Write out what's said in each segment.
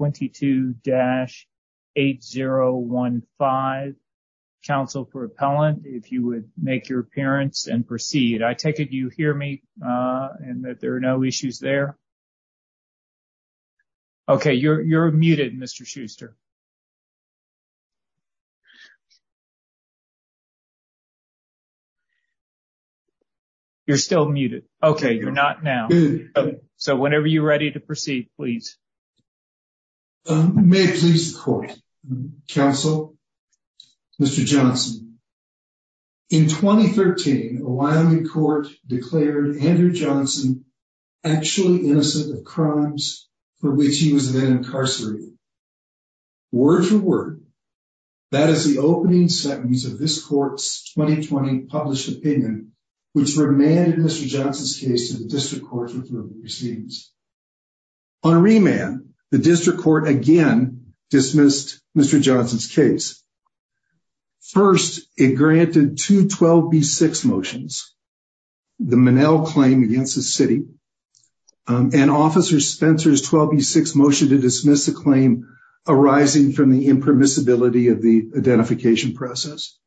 22-8015, Council for Appellant, if you would make your appearance and proceed. I take it you hear me and that there are no issues there? Okay, you're muted, Mr. Schuster. You're still muted. Okay, you're not now. So whenever you're ready to proceed, please. May it please the court, counsel, Mr. Johnson. In 2013, a Wyoming court declared Andrew Johnson actually innocent of crimes for which he was then incarcerated. Word for word, that is the opening sentence of this court's 2020 published opinion, which remanded Mr. Johnson's case to the district proceedings. On a remand, the district court again dismissed Mr. Johnson's case. First, it granted two 12B6 motions, the Monell claim against the city, and Officer Spencer's 12B6 motion to dismiss the claim arising from the impermissibility of the identification process.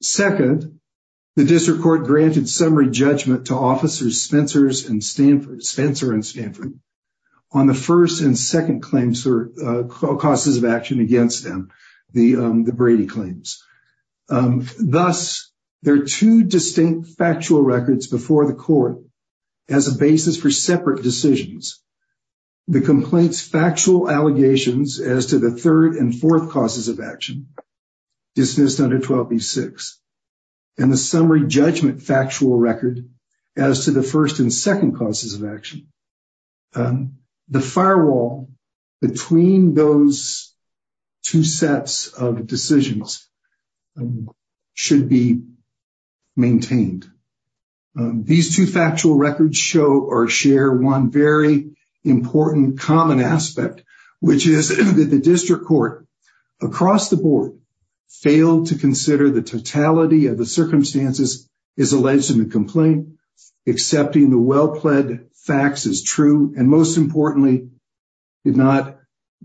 Second, the district court granted summary judgment to Officers Spencer and Stanford on the first and second claims or causes of action against them, the Brady claims. Thus, there are two distinct factual records before the court as a basis for separate decisions. The complaints' factual allegations as to the third and fourth causes of action dismissed under 12B6, and the summary judgment factual record as to the first and second causes of action. The firewall between those two sets of decisions should be maintained. These two factual records show or share one very important common aspect, which is that the district court across the board failed to consider the totality of the circumstances as alleged in the complaint, accepting the well-pledged facts as true, and most importantly, did not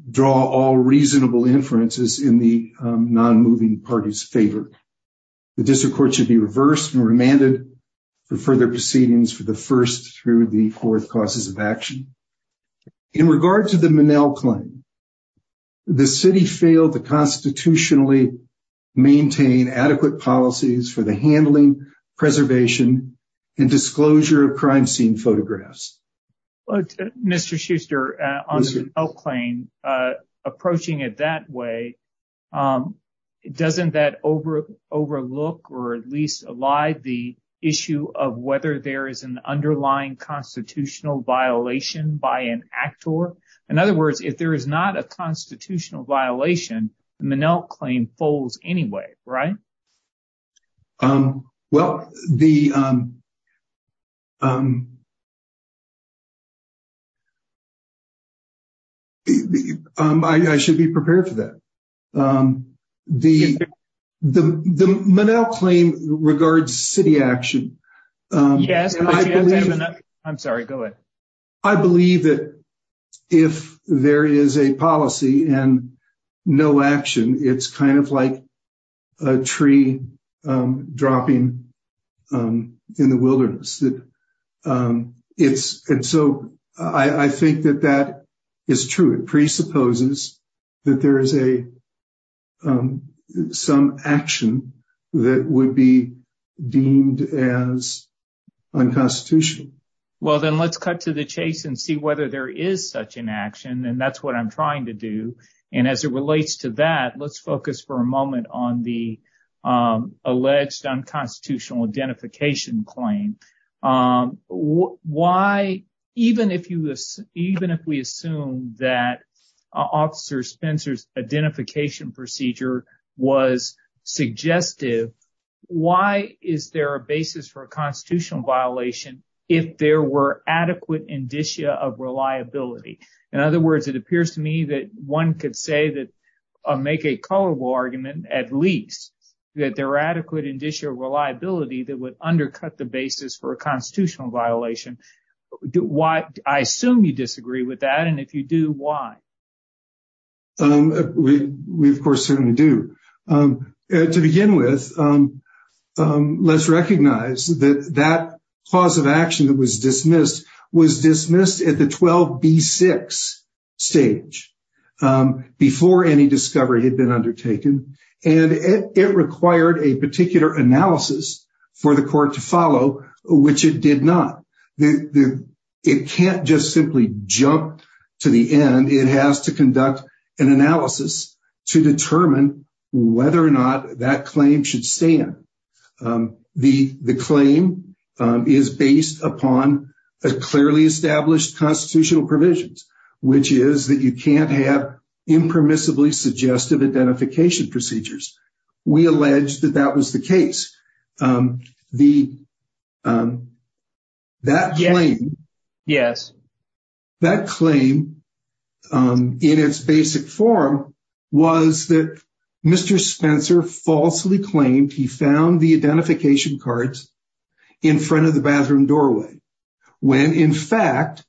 draw all reasonable inferences in the non-moving party's favor. The district court should be reversed and remanded for further proceedings for the first through the fourth causes of action. In regard to the Monell claim, the city failed to constitutionally maintain adequate policies for the handling, preservation, and disclosure of crime scene photographs. Mr. Schuster, on the Monell claim, approaching it that way, doesn't that overlook or at least allie the issue of whether there is an underlying constitutional violation by an actor? In other words, if there is not a constitutional violation, the Monell claim falls anyway, right? Well, I should be prepared for that. The Monell claim regards city action. Yes. I'm sorry. Go ahead. I believe that if there is a policy and no action, it's kind of like a tree dropping in the wilderness. I think that that is true. It presupposes that there is some action that would be deemed as unconstitutional. Well, then let's cut to the chase and see whether there is such an action, and that's what I'm trying to do. As it relates to that, let's focus for a moment on the alleged unconstitutional identification claim. Why, even if we assume that Officer Spencer's identification procedure was suggestive, why is there a basis for a constitutional violation if there were adequate indicia of reliability? In other words, it appears to me that one could say that, make a colorable argument, at least, that there are adequate indicia of reliability that would undercut the basis for a constitutional violation. I assume you disagree with that, and if you do, why? We, of course, certainly do. To begin with, let's recognize that that cause of action that was dismissed was dismissed at the 12B6 stage before any discovery had been undertaken, and it required a particular analysis for the court to follow, which it did not. It can't just simply jump to the end. It has to conduct an analysis to determine whether or not that claim should stand. The claim is based upon clearly established constitutional provisions, which is you can't have impermissibly suggestive identification procedures. We allege that that was the case. That claim, in its basic form, was that Mr. Spencer falsely claimed he found the identification cards in front of the bathroom doorway, when, in fact,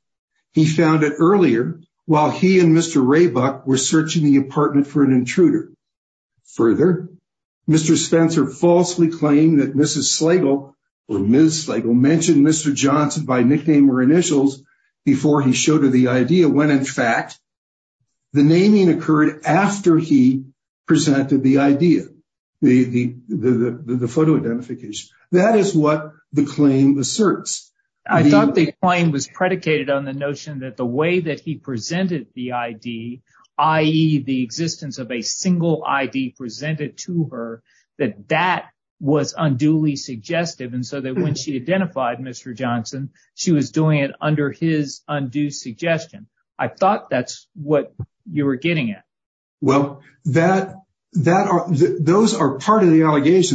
he found it earlier, while he and Mr. Raybuck were searching the apartment for an intruder. Further, Mr. Spencer falsely claimed that Mrs. Slagle, or Ms. Slagle, mentioned Mr. Johnson by nickname or initials before he showed her the idea, when, in fact, the naming occurred after he presented the idea, the photo identification. That is what the claim asserts. I thought the claim was predicated on the notion that the way that he presented the ID, i.e., the existence of a single ID presented to her, that that was unduly suggestive, and so that when she identified Mr. Johnson, she was doing it under his undue suggestion. I thought that's what you were getting at. Well, those are part of the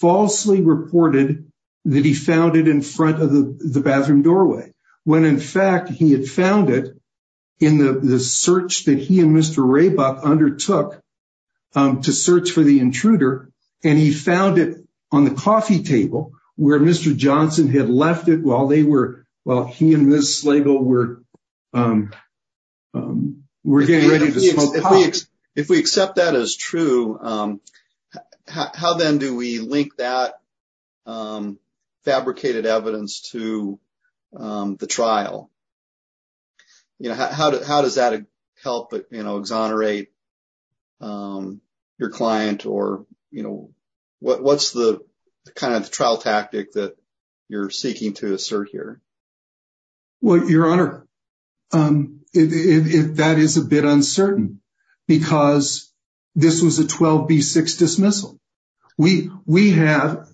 falsely reported that he found it in front of the bathroom doorway, when, in fact, he had found it in the search that he and Mr. Raybuck undertook to search for the intruder, and he found it on the coffee table where Mr. Johnson had left it while he and Ms. Slagle were getting ready to smoke pot. If we accept that as true, how then do we link that fabricated evidence to the trial? How does that help exonerate your client, or what's the kind of trial tactic that you're seeking to assert here? Well, Your Honor, that is a bit uncertain, because this was a 12B6 dismissal. We have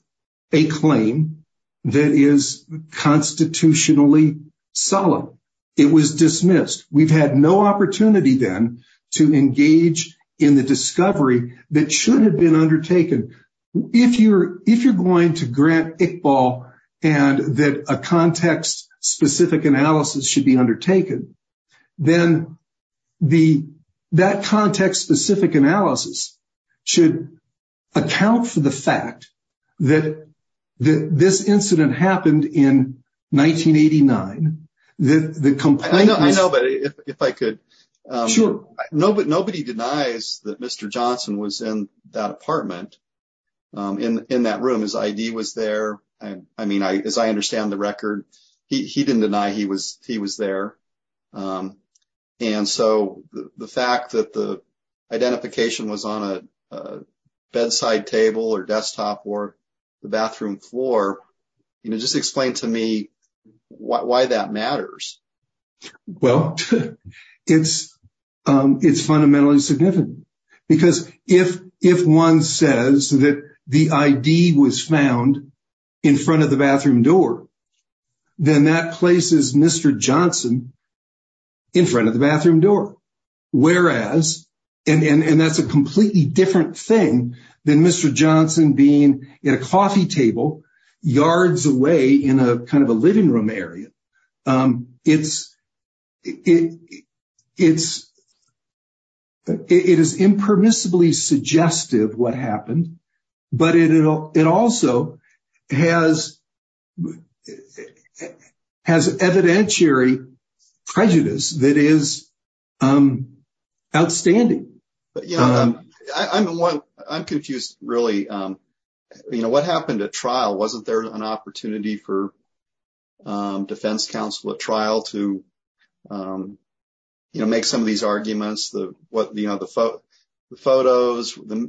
a claim that is constitutionally solemn. It was dismissed. We've had no opportunity then to engage in the discovery that should have been undertaken. If you're going to grant Iqbal and that a context-specific analysis should be undertaken, then that context-specific analysis should account for the fact that this incident happened in 1989. I know, but if I could. Nobody denies that Mr. Johnson was in that apartment, in that room. His ID was there. As I understand the record, he didn't deny he was there. The fact that the identification was on a bedside table or desktop or the bathroom floor, just explain to me why that matters. Well, it's fundamentally significant, because if one says that the ID was found in front of the bathroom door, then that places Mr. Johnson in front of the bathroom door. That's a completely different thing than Mr. Johnson being at a coffee table yards away in a living room area. It is impermissibly suggestive what happened, but it also has evidentiary prejudice that is outstanding. I'm confused, really. What happened at trial? Wasn't there an opportunity for defense counsel at trial to make some of these arguments? The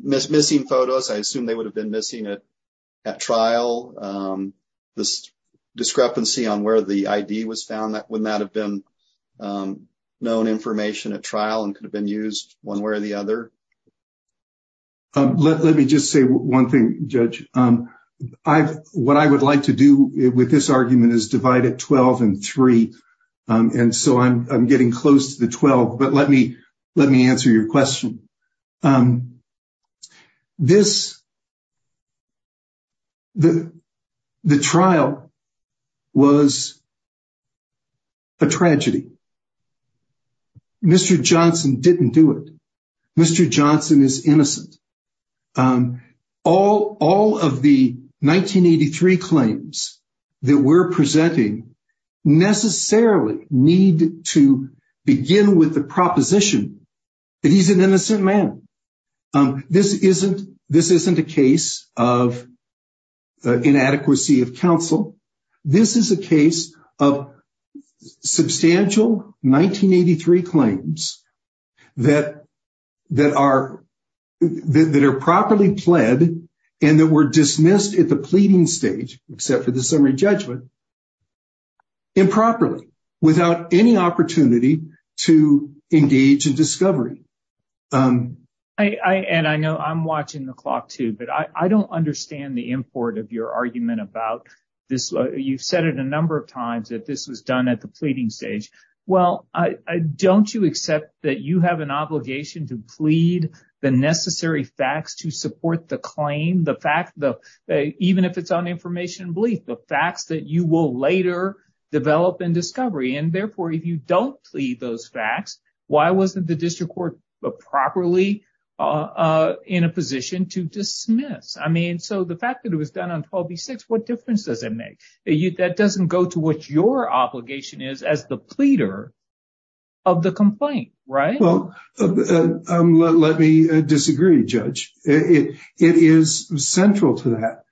missing photos, I assume they would have been missing at trial. The discrepancy on where the ID was found, wouldn't that have been known information at trial and could have been used one way or the other? Let me just say one thing, Judge. What I would like to do with this argument is divide it 12 and 3. I'm getting close to the 12, but let me answer your question. The trial was a tragedy. Mr. Johnson didn't do it. Mr. Johnson is innocent. All of the 1983 claims that we're presenting necessarily need to begin with the proposition that he's an innocent man. This isn't a case of inadequacy of counsel. This is a case of substantial 1983 claims that are properly pled and that were dismissed at the pleading stage, except for the summary judgment, improperly, without any opportunity to engage in discovery. And I know I'm watching the clock too, but I don't understand the import of your argument about this. You've said it a number of times that this was done at the pleading stage. Well, don't you accept that you have an obligation to plead the necessary facts to support the claim, the fact that even if it's on information and belief, the facts that you will later develop in discovery? And therefore, if you don't plead those facts, why wasn't the district court properly in a position to dismiss? I mean, so the fact that it was done on 12 v. 6, what difference does it make? That doesn't go to what your obligation is as the pleader of the complaint, right? Well, let me disagree, Judge. It is central to that.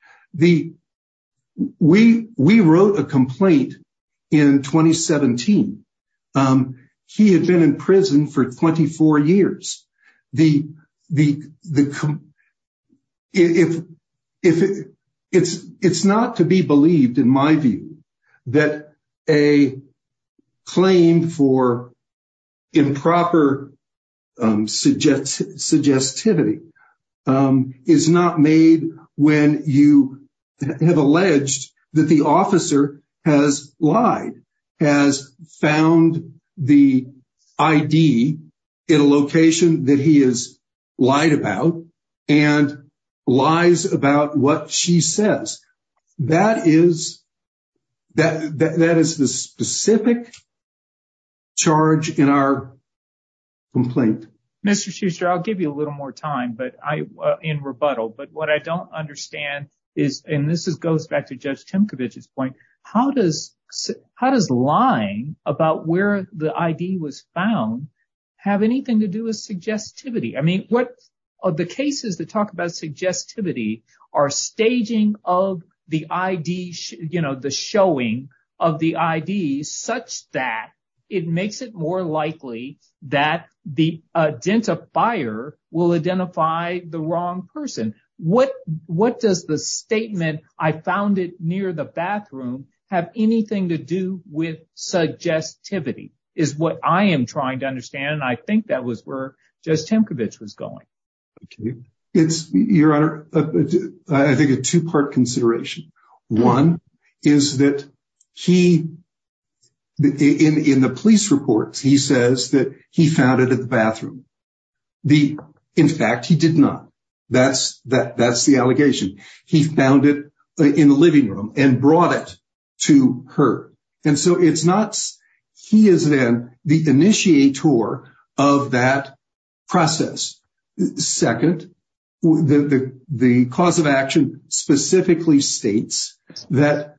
We wrote a complaint in 2017. He had been in prison for 24 years. It's not to be believed, in my view, that a claim for improper suggestivity is not made when you have alleged that the officer has lied, has found the ID in a location that he has lied about and lies about what she says. That is the specific charge in our complaint. Mr. Schuster, I'll give you a little more time in rebuttal, but what I don't understand is, and this goes back to Judge Tymkiewicz's point, how does lying about where the ID was found have anything to do with suggestivity? I mean, the cases that talk about suggestivity are staging of the ID, the showing of the ID, such that it makes it more likely that the identifier will identify the wrong person. What does the statement, I found it near the bathroom, have anything to do with suggestivity is what I am trying to understand, and I think that was where Judge Tymkiewicz was going. Your Honor, I think it's a two-part consideration. One is that in the police reports, he says that he found it in the bathroom. In fact, he did not. That's the allegation. He found it in the living to her, and so he is then the initiator of that process. Second, the cause of action specifically states that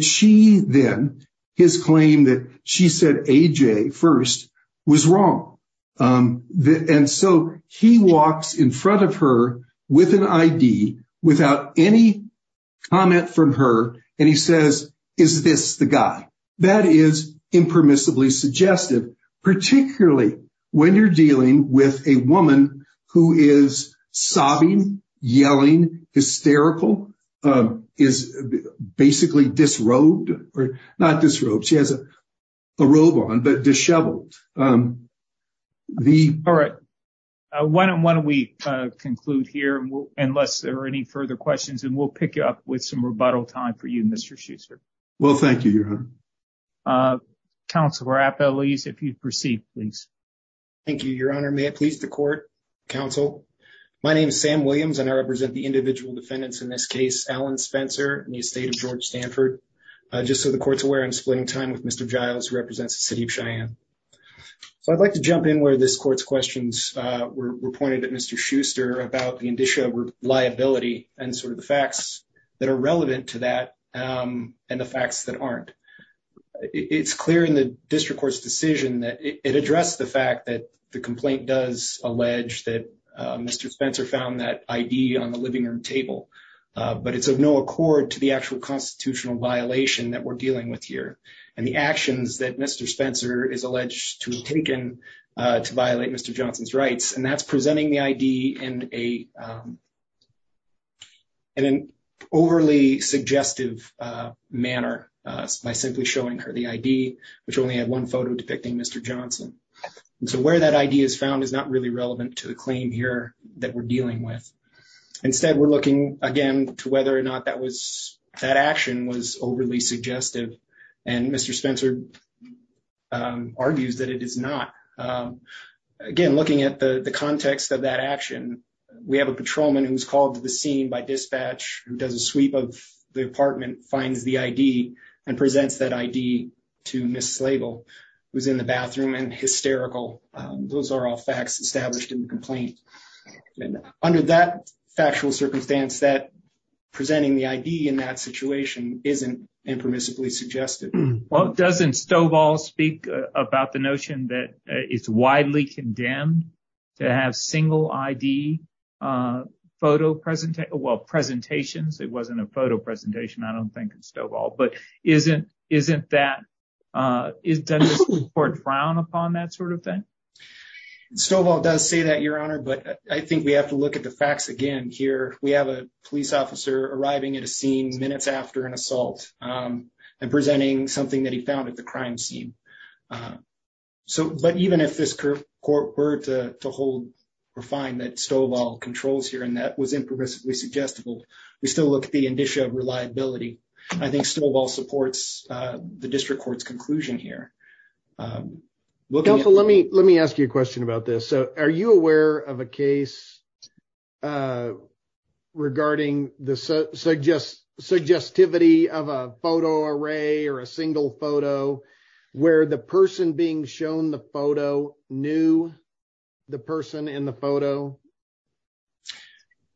she then, his claim that she said A.J. first was wrong, and so he says, is this the guy? That is impermissibly suggestive, particularly when you are dealing with a woman who is sobbing, yelling, hysterical, is basically disrobed. Not disrobed. She has a robe on, but disheveled. All right. Why don't we conclude here, unless there are any further questions, and we will pick you up with some rebuttal time for you, Mr. Schuster. Well, thank you, Your Honor. Counselor Appel, please, if you would proceed, please. Thank you, Your Honor. May it please the court, counsel. My name is Sam Williams, and I represent the individual defendants in this case, Alan Spencer and the estate of George Stanford. Just so the court is aware, I am splitting time with Mr. Giles, who represents the city of Cheyenne. I would like to jump in where this court's questions were pointed at Mr. and sort of the facts that are relevant to that and the facts that aren't. It's clear in the district court's decision that it addressed the fact that the complaint does allege that Mr. Spencer found that ID on the living room table, but it's of no accord to the actual constitutional violation that we're dealing with here and the actions that Mr. Spencer is alleged to have taken to violate Mr. Johnson's rights, and that's presenting the ID in an overly suggestive manner by simply showing her the ID, which only had one photo depicting Mr. Johnson. So where that ID is found is not really relevant to the claim here that we're dealing with. Instead, we're looking, again, to whether or not that action was overly suggestive, and Mr. Spencer argues that it is not. Again, looking at the context of that action, we have a patrolman who's called to the scene by dispatch, who does a sweep of the apartment, finds the ID, and presents that ID to Ms. Slagle, who's in the bathroom and hysterical. Those are all facts established in the complaint. Under that factual circumstance, presenting the ID in that situation isn't impermissibly suggestive. Well, doesn't Stovall speak about the notion that it's widely condemned to have single ID photo presentations? It wasn't a photo presentation, I don't think, Stovall, but doesn't the Supreme Court frown upon that sort of thing? Stovall does say that, Your Honor, but I think we have to look at the facts again here. We have a police officer arriving at a scene minutes after an assault and presenting something that he found at the crime scene. But even if this court were to hold or find that Stovall controls here and that was impermissibly suggestible, we still look at the indicia of reliability. I think Stovall supports the district court's conclusion here. Counsel, let me ask you a question about this. Are you aware of a case regarding the suggestivity of a photo array or a single photo where the person being shown the photo knew the person in the photo?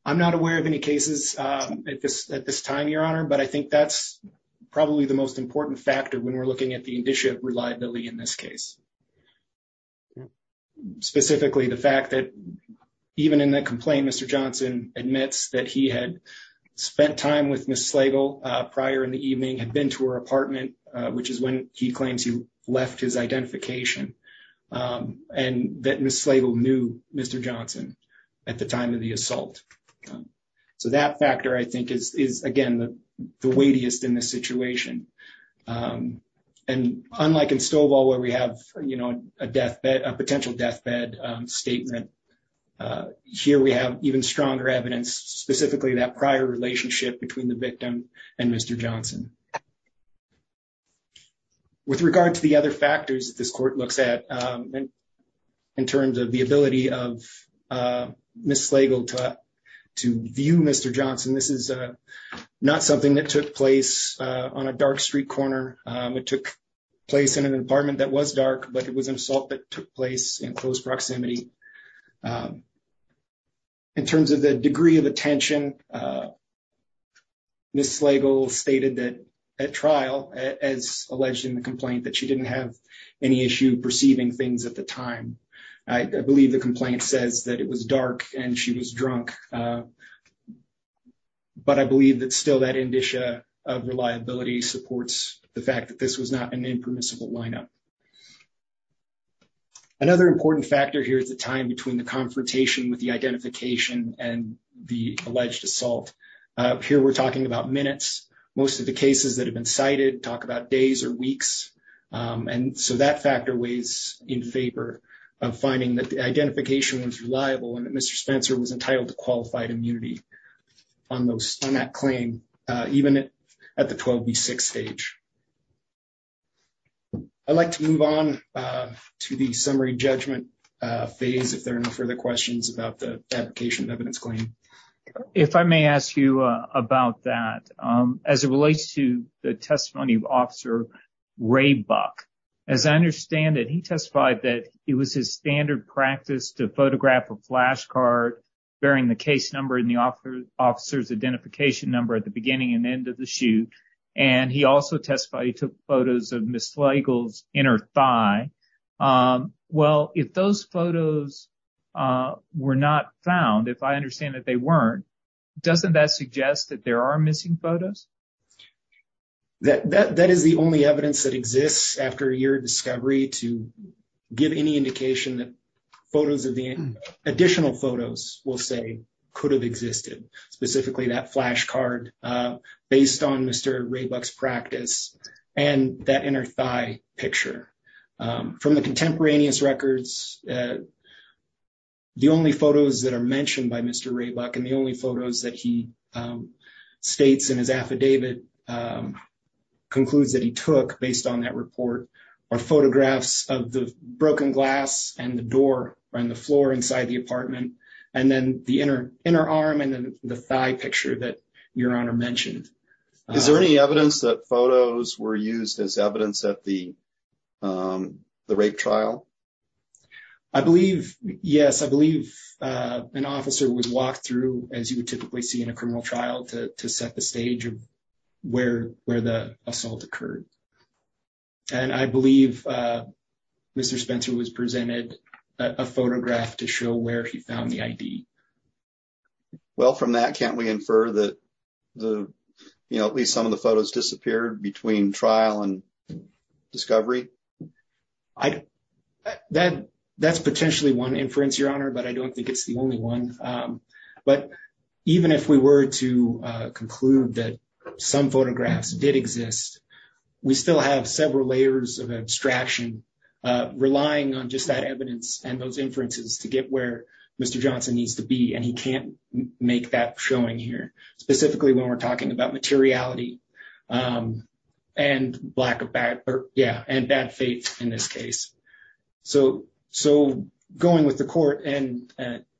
I'm not aware of any cases at this time, Your Honor, but I think that's probably the most suggestive case. Specifically, the fact that even in the complaint, Mr. Johnson admits that he had spent time with Ms. Slagle prior in the evening, had been to her apartment, which is when he claims he left his identification, and that Ms. Slagle knew Mr. Johnson at the time of the assault. So that factor, I think, is again the weightiest in this situation. And unlike in Stovall where we have a potential deathbed statement, here we have even stronger evidence, specifically that prior relationship between the victim and Mr. Johnson. With regard to the other factors that this court looks at in terms of the ability of Ms. Slagle to view Mr. Johnson, this is not something that took place on a dark street corner. It took place in an apartment that was dark, but it was an assault that took place in close proximity. In terms of the degree of attention, Ms. Slagle stated that at trial, as alleged in the complaint, that she didn't have any issue perceiving things at the time. I believe the complaint says that it was dark and she was not able to see things. So I think the reliability supports the fact that this was not an impermissible lineup. Another important factor here is the time between the confrontation with the identification and the alleged assault. Here we're talking about minutes. Most of the cases that have been cited talk about days or weeks, and so that factor weighs in favor of finding that the identification was reliable and that Mr. Spencer was entitled to qualified immunity on that claim, even at the 12B6 stage. I'd like to move on to the summary judgment phase if there are no further questions about the application of evidence claim. If I may ask you about that, as it relates to the testimony of Officer Ray Buck, as I understand it, he testified that it was his standard practice to photograph a person at the beginning and end of the shoot, and he also testified he took photos of Ms. Slagle's inner thigh. Well, if those photos were not found, if I understand that they weren't, doesn't that suggest that there are missing photos? That is the only evidence that exists after a year of discovery to give any indication that photos of the additional photos will say could have existed, specifically that flash card based on Mr. Ray Buck's practice and that inner thigh picture. From the contemporaneous records, the only photos that are mentioned by Mr. Ray Buck and the only photos that he states in his affidavit concludes that he took based on that report are photographs of the broken glass and the door on the floor inside the apartment, and then the inner arm, the thigh picture that Your Honor mentioned. Is there any evidence that photos were used as evidence at the rape trial? I believe, yes, I believe an officer would walk through, as you would typically see in a criminal trial, to set the stage of where the assault occurred. And I believe Mr. Spencer was presented a photograph to show where he found the ID. Well, from that, can't we infer that, you know, at least some of the photos disappeared between trial and discovery? That's potentially one inference, Your Honor, but I don't think it's the only one. But even if we were to conclude that some photographs did exist, we still have several layers of abstraction relying on just that evidence and those inferences to get where Mr. Johnson needs to be. And he can't make that showing here, specifically when we're talking about materiality and black or bad, yeah, and bad faith in this case. So going with the court and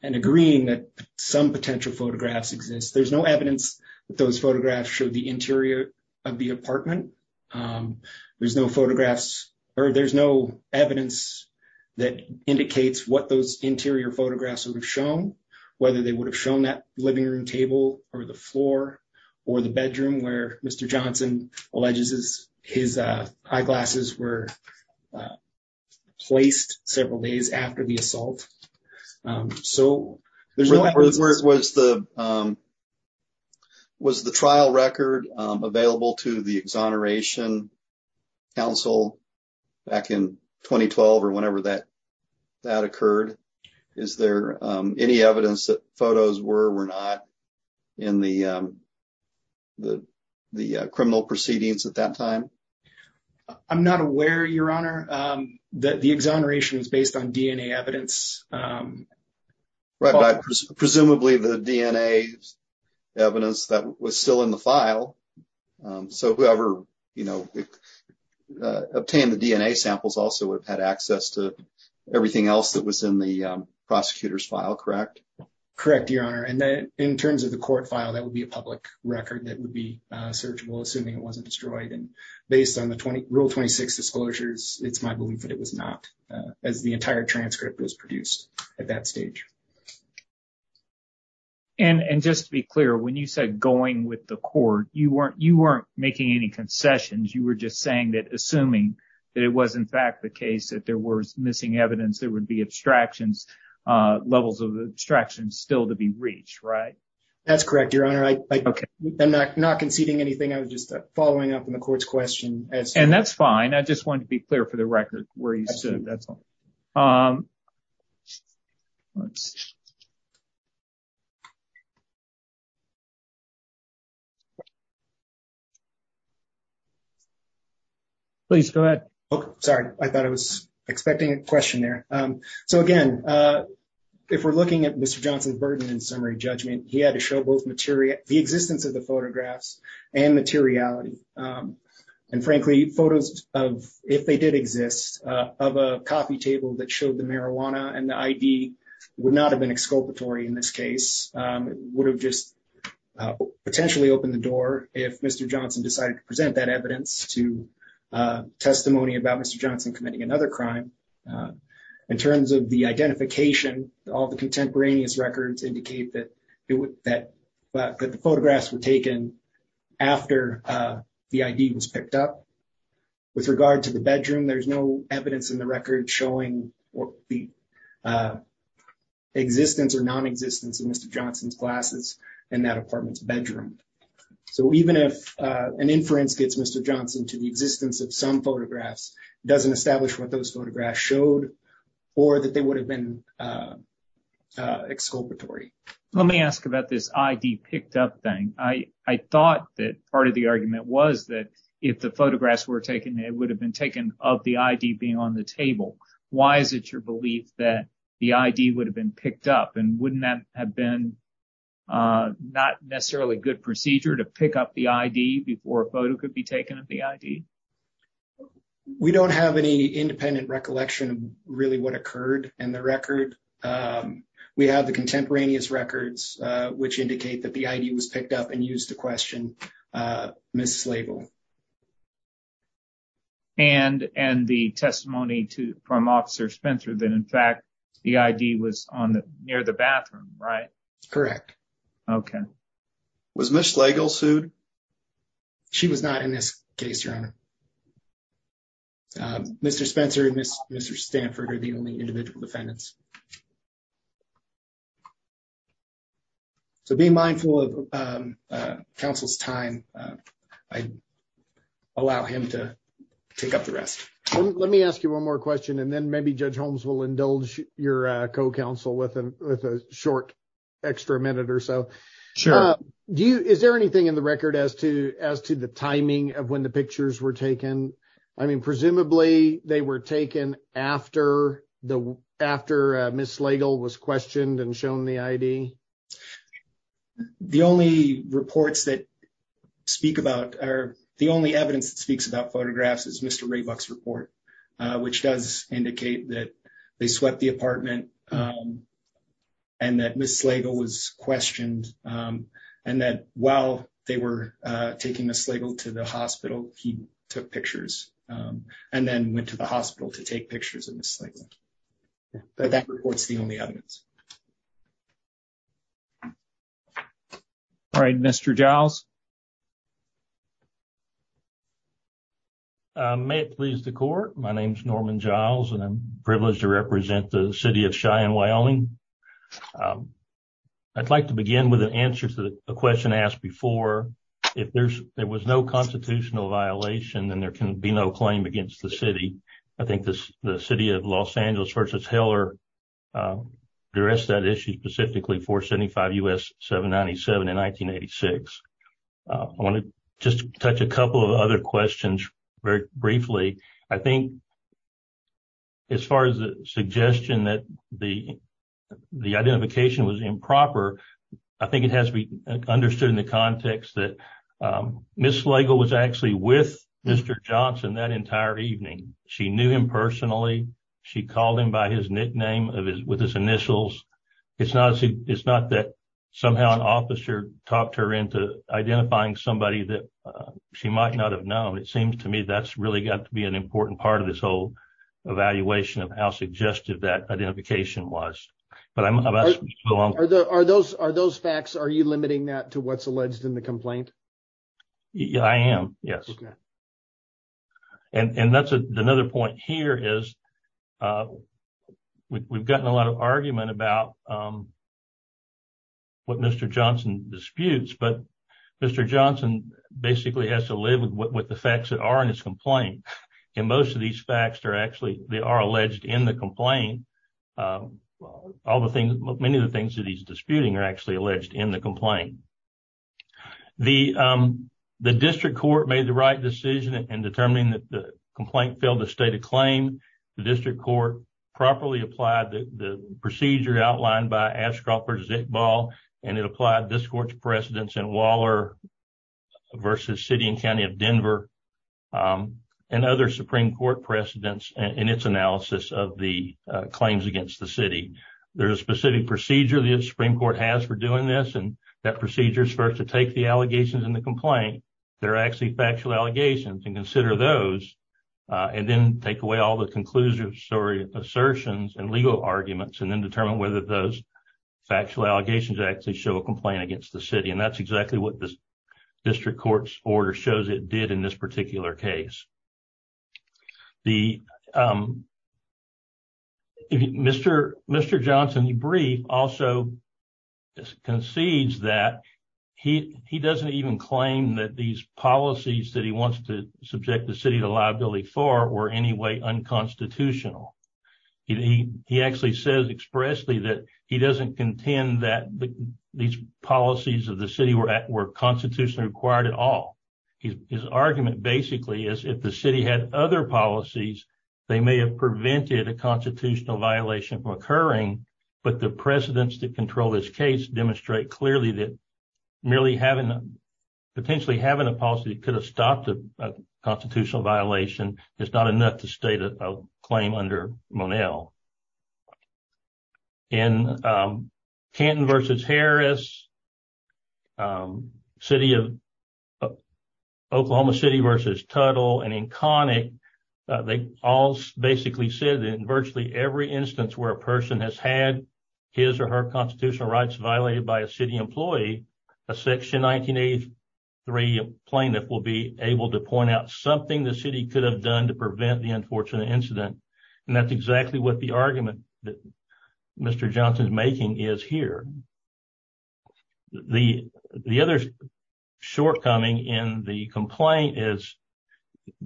agreeing that some potential photographs exist, there's no evidence that those photographs show the interior of the apartment. There's no photographs or there's no evidence that indicates what those interior photographs would have shown, whether they would have shown that living room table or the floor or the bedroom where Mr. Johnson alleges his eyeglasses were placed several days after the assault. So there's no evidence. Was the trial record available to the Exoneration Council back in 2012 or whenever that occurred? Is there any evidence that photos were or were not in the criminal proceedings at that time? I'm not aware, Your Honor, that the Exoneration is based on DNA evidence. Presumably the DNA evidence that was still in the file. So whoever, you know, obtained the DNA samples also would have had access to everything else that was in the prosecutor's file, correct? Correct, Your Honor. And then in terms of the court file, that would be a public record that would be searchable, assuming it wasn't destroyed. And based on the Rule 26 disclosures, it's my belief that it was not, as the entire transcript was produced at that stage. And just to be clear, when you said going with the court, you weren't making any concessions. You were just saying that assuming that it was, in fact, the case that there was missing evidence, there would be abstractions, levels of abstractions still to be reached, right? That's correct, Your Honor. I'm not conceding anything. I was just following up on the court's question. And that's fine. I just wanted to be clear for the record where you stood. Please, go ahead. Sorry, I thought I was expecting a question there. So again, if we're looking at Mr. Johnson's burden in summary judgment, he had to show both the existence of the photographs and materiality. And frankly, photos of, if they did exist, of a coffee table that showed the marijuana and the ID would not have been exculpatory in this case. It would have just potentially opened the door if Mr. Johnson decided to present that evidence. So, I'm not going to go into the details of that. I'm just going to point out that there was no evidence to testimony about Mr. Johnson committing another crime. In terms of the identification, all the contemporaneous records indicate that the photographs were taken after the ID was picked up. With regard to the bedroom, there's no evidence in the record showing the existence or non-existence of Mr. Johnson's glasses in that apartment's bedroom. So, even if an inference gets Mr. Johnson to the existence of some photographs, it doesn't establish what those photographs showed or that they would have been exculpatory. Let me ask about this ID picked up thing. I thought that part of the argument was if the photographs were taken, it would have been taken of the ID being on the table. Why is it your belief that the ID would have been picked up? And wouldn't that have been not necessarily a good procedure to pick up the ID before a photo could be taken of the ID? We don't have any independent recollection of really what occurred in the record. We have the contemporaneous records, which indicate that the ID was picked up and used to question Ms. Slagle. And the testimony from Officer Spencer that, in fact, the ID was near the bathroom, right? Correct. Okay. Was Ms. Slagle sued? She was not in this case, Your Honor. Mr. Spencer and Mr. Stanford are the only individual defendants. So, being mindful of counsel's time, I allow him to take up the rest. Let me ask you one more question, and then maybe Judge Holmes will indulge your co-counsel with a short extra minute or so. Sure. Is there anything in the record as to the timing of when the pictures were taken? I mean, presumably they were taken after Ms. Slagle was questioned and shown the ID? The only reports that speak about or the only evidence that speaks about photographs is Mr. Raybuck's report, which does indicate that they swept the apartment and that Ms. Slagle was pictured and then went to the hospital to take pictures of Ms. Slagle. But that report's the only evidence. All right. Mr. Giles? May it please the Court. My name is Norman Giles, and I'm privileged to represent the City of Cheyenne, Wyoming. I'd like to begin with an answer to the question asked before. If there was no constitutional violation, then there can be no claim against the City. I think the City of Los Angeles v. Heller addressed that issue specifically for 75 U.S. 797 in 1986. I want to just touch a couple of other questions very briefly. I think as far as the suggestion that the identification was improper, I think it has to be understood in context that Ms. Slagle was actually with Mr. Johnson that entire evening. She knew him personally. She called him by his nickname with his initials. It's not that somehow an officer talked her into identifying somebody that she might not have known. It seems to me that's really got to be an important part of this whole evaluation of how suggestive that identification was. Are those facts, are you limiting that to what's alleged in the complaint? I am, yes. And that's another point here is we've gotten a lot of argument about what Mr. Johnson disputes, but Mr. Johnson basically has to live with the facts that are in his complaint. And most of these facts are actually, they are alleged in the complaint all the things, many of the things that he's disputing are actually alleged in the complaint. The district court made the right decision in determining that the complaint failed to state a claim. The district court properly applied the procedure outlined by Ashcroft versus Iqbal, and it applied this court's precedence in Waller versus City and County of Denver and other Supreme Court precedents in its analysis of the claims against the city. There's a specific procedure the Supreme Court has for doing this, and that procedure is for us to take the allegations in the complaint that are actually factual allegations and consider those and then take away all the conclusions or assertions and legal arguments and then determine whether those factual allegations actually show a complaint against the city. That's exactly what the district court's order shows it did in this particular case. Mr. Johnson, he also concedes that he doesn't even claim that these policies that he wants to subject the city to liability for were in any way unconstitutional. He actually says expressly that he doesn't contend that these policies of the city were constitutionally required at all. His argument basically is if the city had other policies, they may have prevented a constitutional violation from occurring, but the precedents that control this case demonstrate clearly that merely potentially having a policy that could have stopped a constitutional violation is not enough to state a claim under Monell. Canton v. Harris, Oklahoma City v. Tuttle, and in Connick, they all basically said that in virtually every instance where a person has had his or her constitutional rights violated by a city employee, a section 1983 plaintiff will be able to point out something the city could have done to prevent the is here. The other shortcoming in the complaint is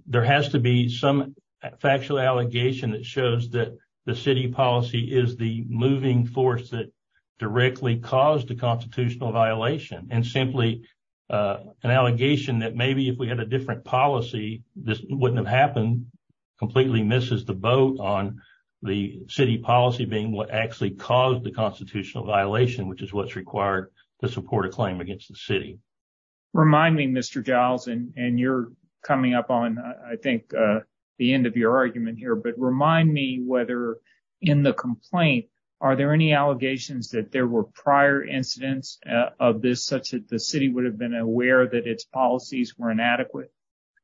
there has to be some factual allegation that shows that the city policy is the moving force that directly caused the constitutional violation, and simply an allegation that maybe if we had a different policy, this wouldn't have happened completely misses the boat on the city policy being what actually caused the constitutional violation, which is what's required to support a claim against the city. Remind me, Mr. Giles, and you're coming up on, I think, the end of your argument here, but remind me whether in the complaint, are there any allegations that there were prior incidents of this such that the city would have been aware that its policies were inadequate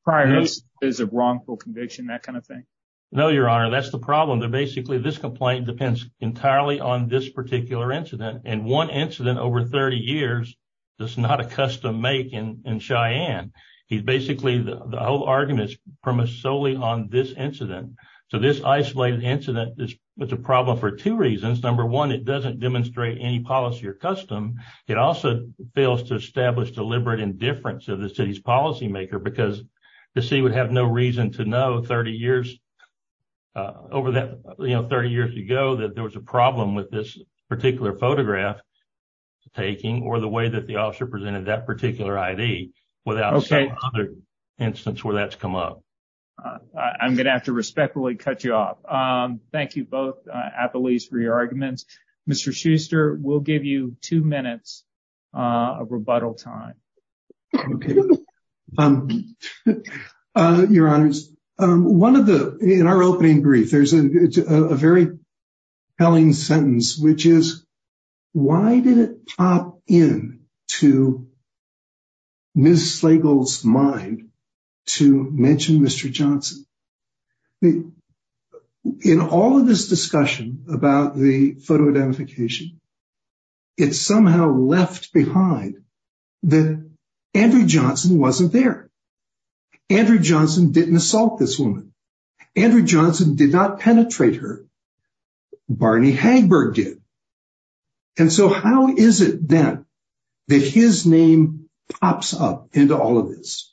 prior to this is a wrongful conviction, that kind of thing? No, Your Honor, that's the problem. Basically, this complaint depends entirely on this particular incident, and one incident over 30 years, that's not a custom make in Cheyenne. He's basically, the whole argument is premise solely on this incident. So this isolated incident is a problem for two reasons. Number one, it doesn't demonstrate any policy or custom. It also fails to establish deliberate indifference of the city's policymaker because the city would have no reason to know 30 years over that 30 years ago that there was a problem with this particular photograph taking or the way that the officer presented that particular ID without other instances where that's come up. I'm going to have to respectfully cut you off. Thank you both at the least for your arguments. Mr. Schuster, we'll give you two minutes of rebuttal time. Okay. Your Honor, in our opening brief, there's a very telling sentence, which is, why did it pop in to Ms. Slagle's mind to mention Mr. Johnson? The, in all of this discussion about the photo identification, it somehow left behind that Andrew Johnson wasn't there. Andrew Johnson didn't assault this woman. Andrew Johnson did not penetrate her. Barney Hagberg did. And so how is it then that his name pops up into all of this?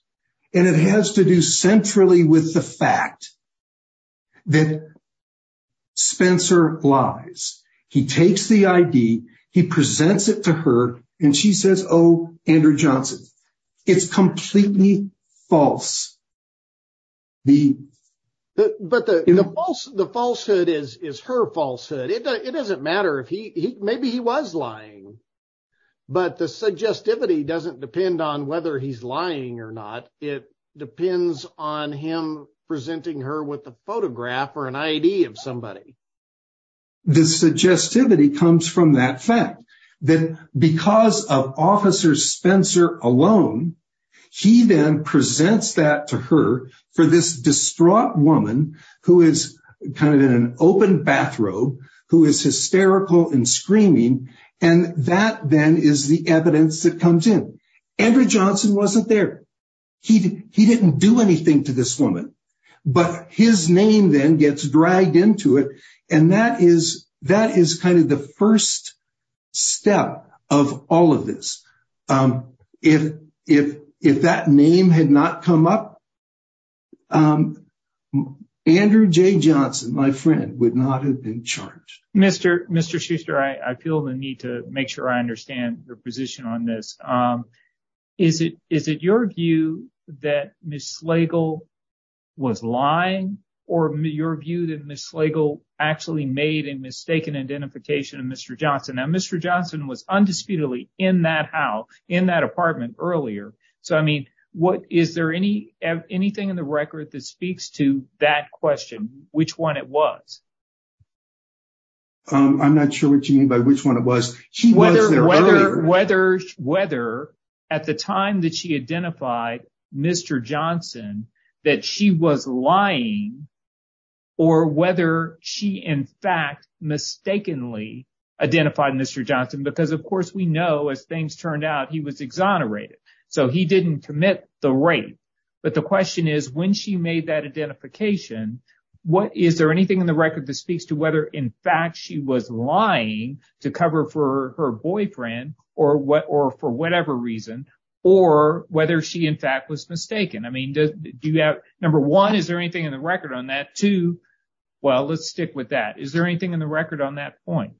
And it has to do centrally with the fact that Spencer lies. He takes the ID, he presents it to her, and she says, oh, Andrew Johnson. It's completely false. But the falsehood is her falsehood. It doesn't matter if he, maybe he was lying, but the suggestivity doesn't depend on whether he's lying or not. It depends on him presenting her with a photograph or an ID of somebody. The suggestivity comes from that fact, that because of Officer Spencer alone, he then presents that to her for this distraught woman who is kind of in an open bathrobe, who is hysterical and screaming. And that then is the evidence that comes in. Andrew Johnson wasn't there. He didn't do anything to this woman. But his name then gets dragged into it. And that is kind of the first step of all of this. If that name had not come up, Andrew J. Johnson, my friend, would not have been charged. Mr. Schuster, I feel the need to make sure I understand your position on this. Is it your view that Ms. Slagle was lying or your view that Ms. Slagle actually made a mistaken identification of Mr. Johnson? Now, Mr. Johnson was undisputedly in that house, in that apartment earlier. So, I mean, is there anything in the record that speaks to that question, which one it was? I'm not sure what you mean by which one it was. Whether at the time that she identified Mr. Johnson, that she was lying or whether she, in fact, mistakenly identified Mr. Johnson. Because, of course, we know as things turned out, he was exonerated. So he didn't commit the rape. But the question is, when she made that identification, is there anything in the record that speaks to whether, in fact, she was lying to cover for her boyfriend or for whatever reason or whether she, in fact, was mistaken? I mean, number one, is there anything in the record on that? Two, well, let's stick with that. Is there anything in the record on that point?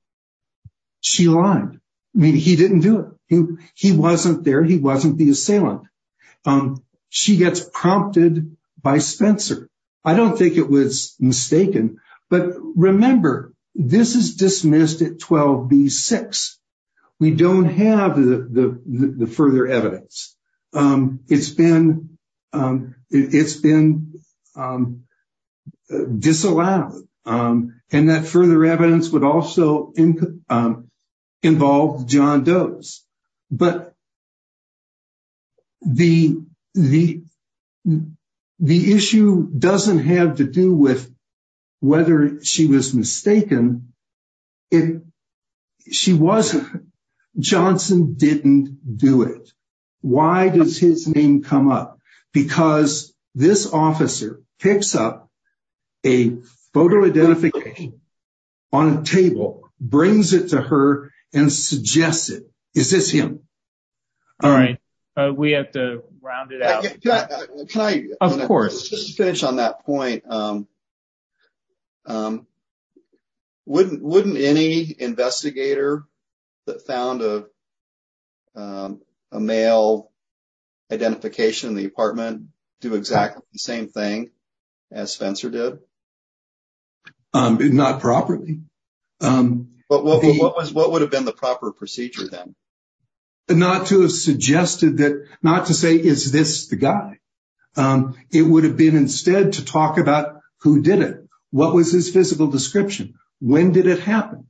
She lied. I mean, he didn't do it. He wasn't there. He wasn't the assailant. She gets prompted by Spencer. I don't think it was mistaken. But remember, this is dismissed at 12B-6. We don't have the further evidence. It's been disallowed. And that further evidence would also involve John Doe's. But the issue doesn't have to do with whether she was mistaken. She wasn't. Johnson didn't do it. Why does his name come up? Because this officer picks up a photo identification on a table, brings it to her, and suggests it. Is this him? All right. We have to round it out. Of course. To finish on that point, wouldn't any investigator that found a male identification in the apartment do exactly the same thing as Spencer did? Not properly. What would have been the proper procedure then? Not to have suggested that, not to say, is this the guy? It would have been instead to talk about who did it. What was his physical identity? If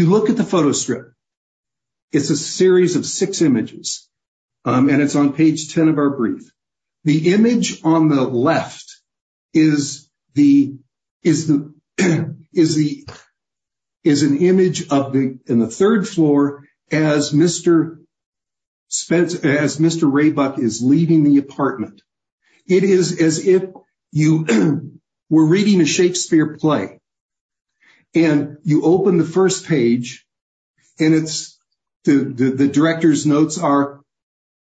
you look at the photo strip, it's a series of six images, and it's on page 10 of our brief. The image on the left is an image in the third floor as Mr. Raybuck is leaving the apartment. It is as if you were reading a Shakespeare play. You open the first page, and the director's notes are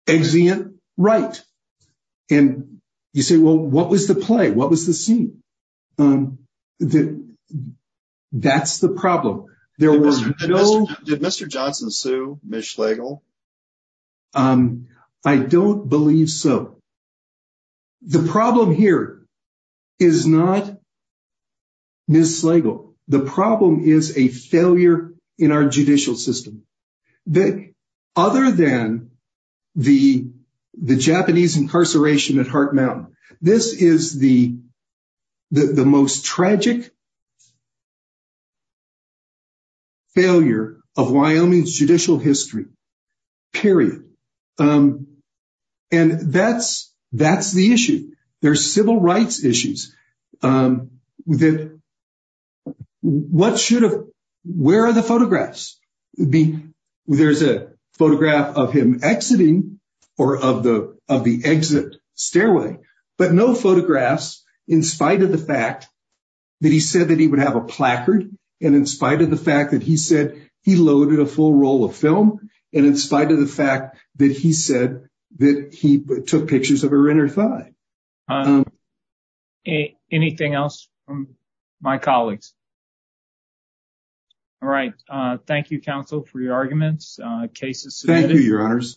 exeunt right. You say, well, what was the play? What was the scene? That's the problem. Did Mr. Johnson sue Ms. Slagle? I don't believe so. The problem here is not Ms. Slagle. The problem is a failure in our judicial system. Other than the Japanese incarceration at Heart Mountain, this is the period. That's the issue. There's civil rights issues. Where are the photographs? There's a photograph of him exiting or of the exit stairway, but no photographs in spite of the fact that he said that he would have a placard, and in spite of the fact that he said he loaded a full roll of film, and in spite of the fact that he said that he took pictures of her inner thigh. Anything else from my colleagues? All right. Thank you, counsel, for your arguments. Cases submitted. Thank you, your honors.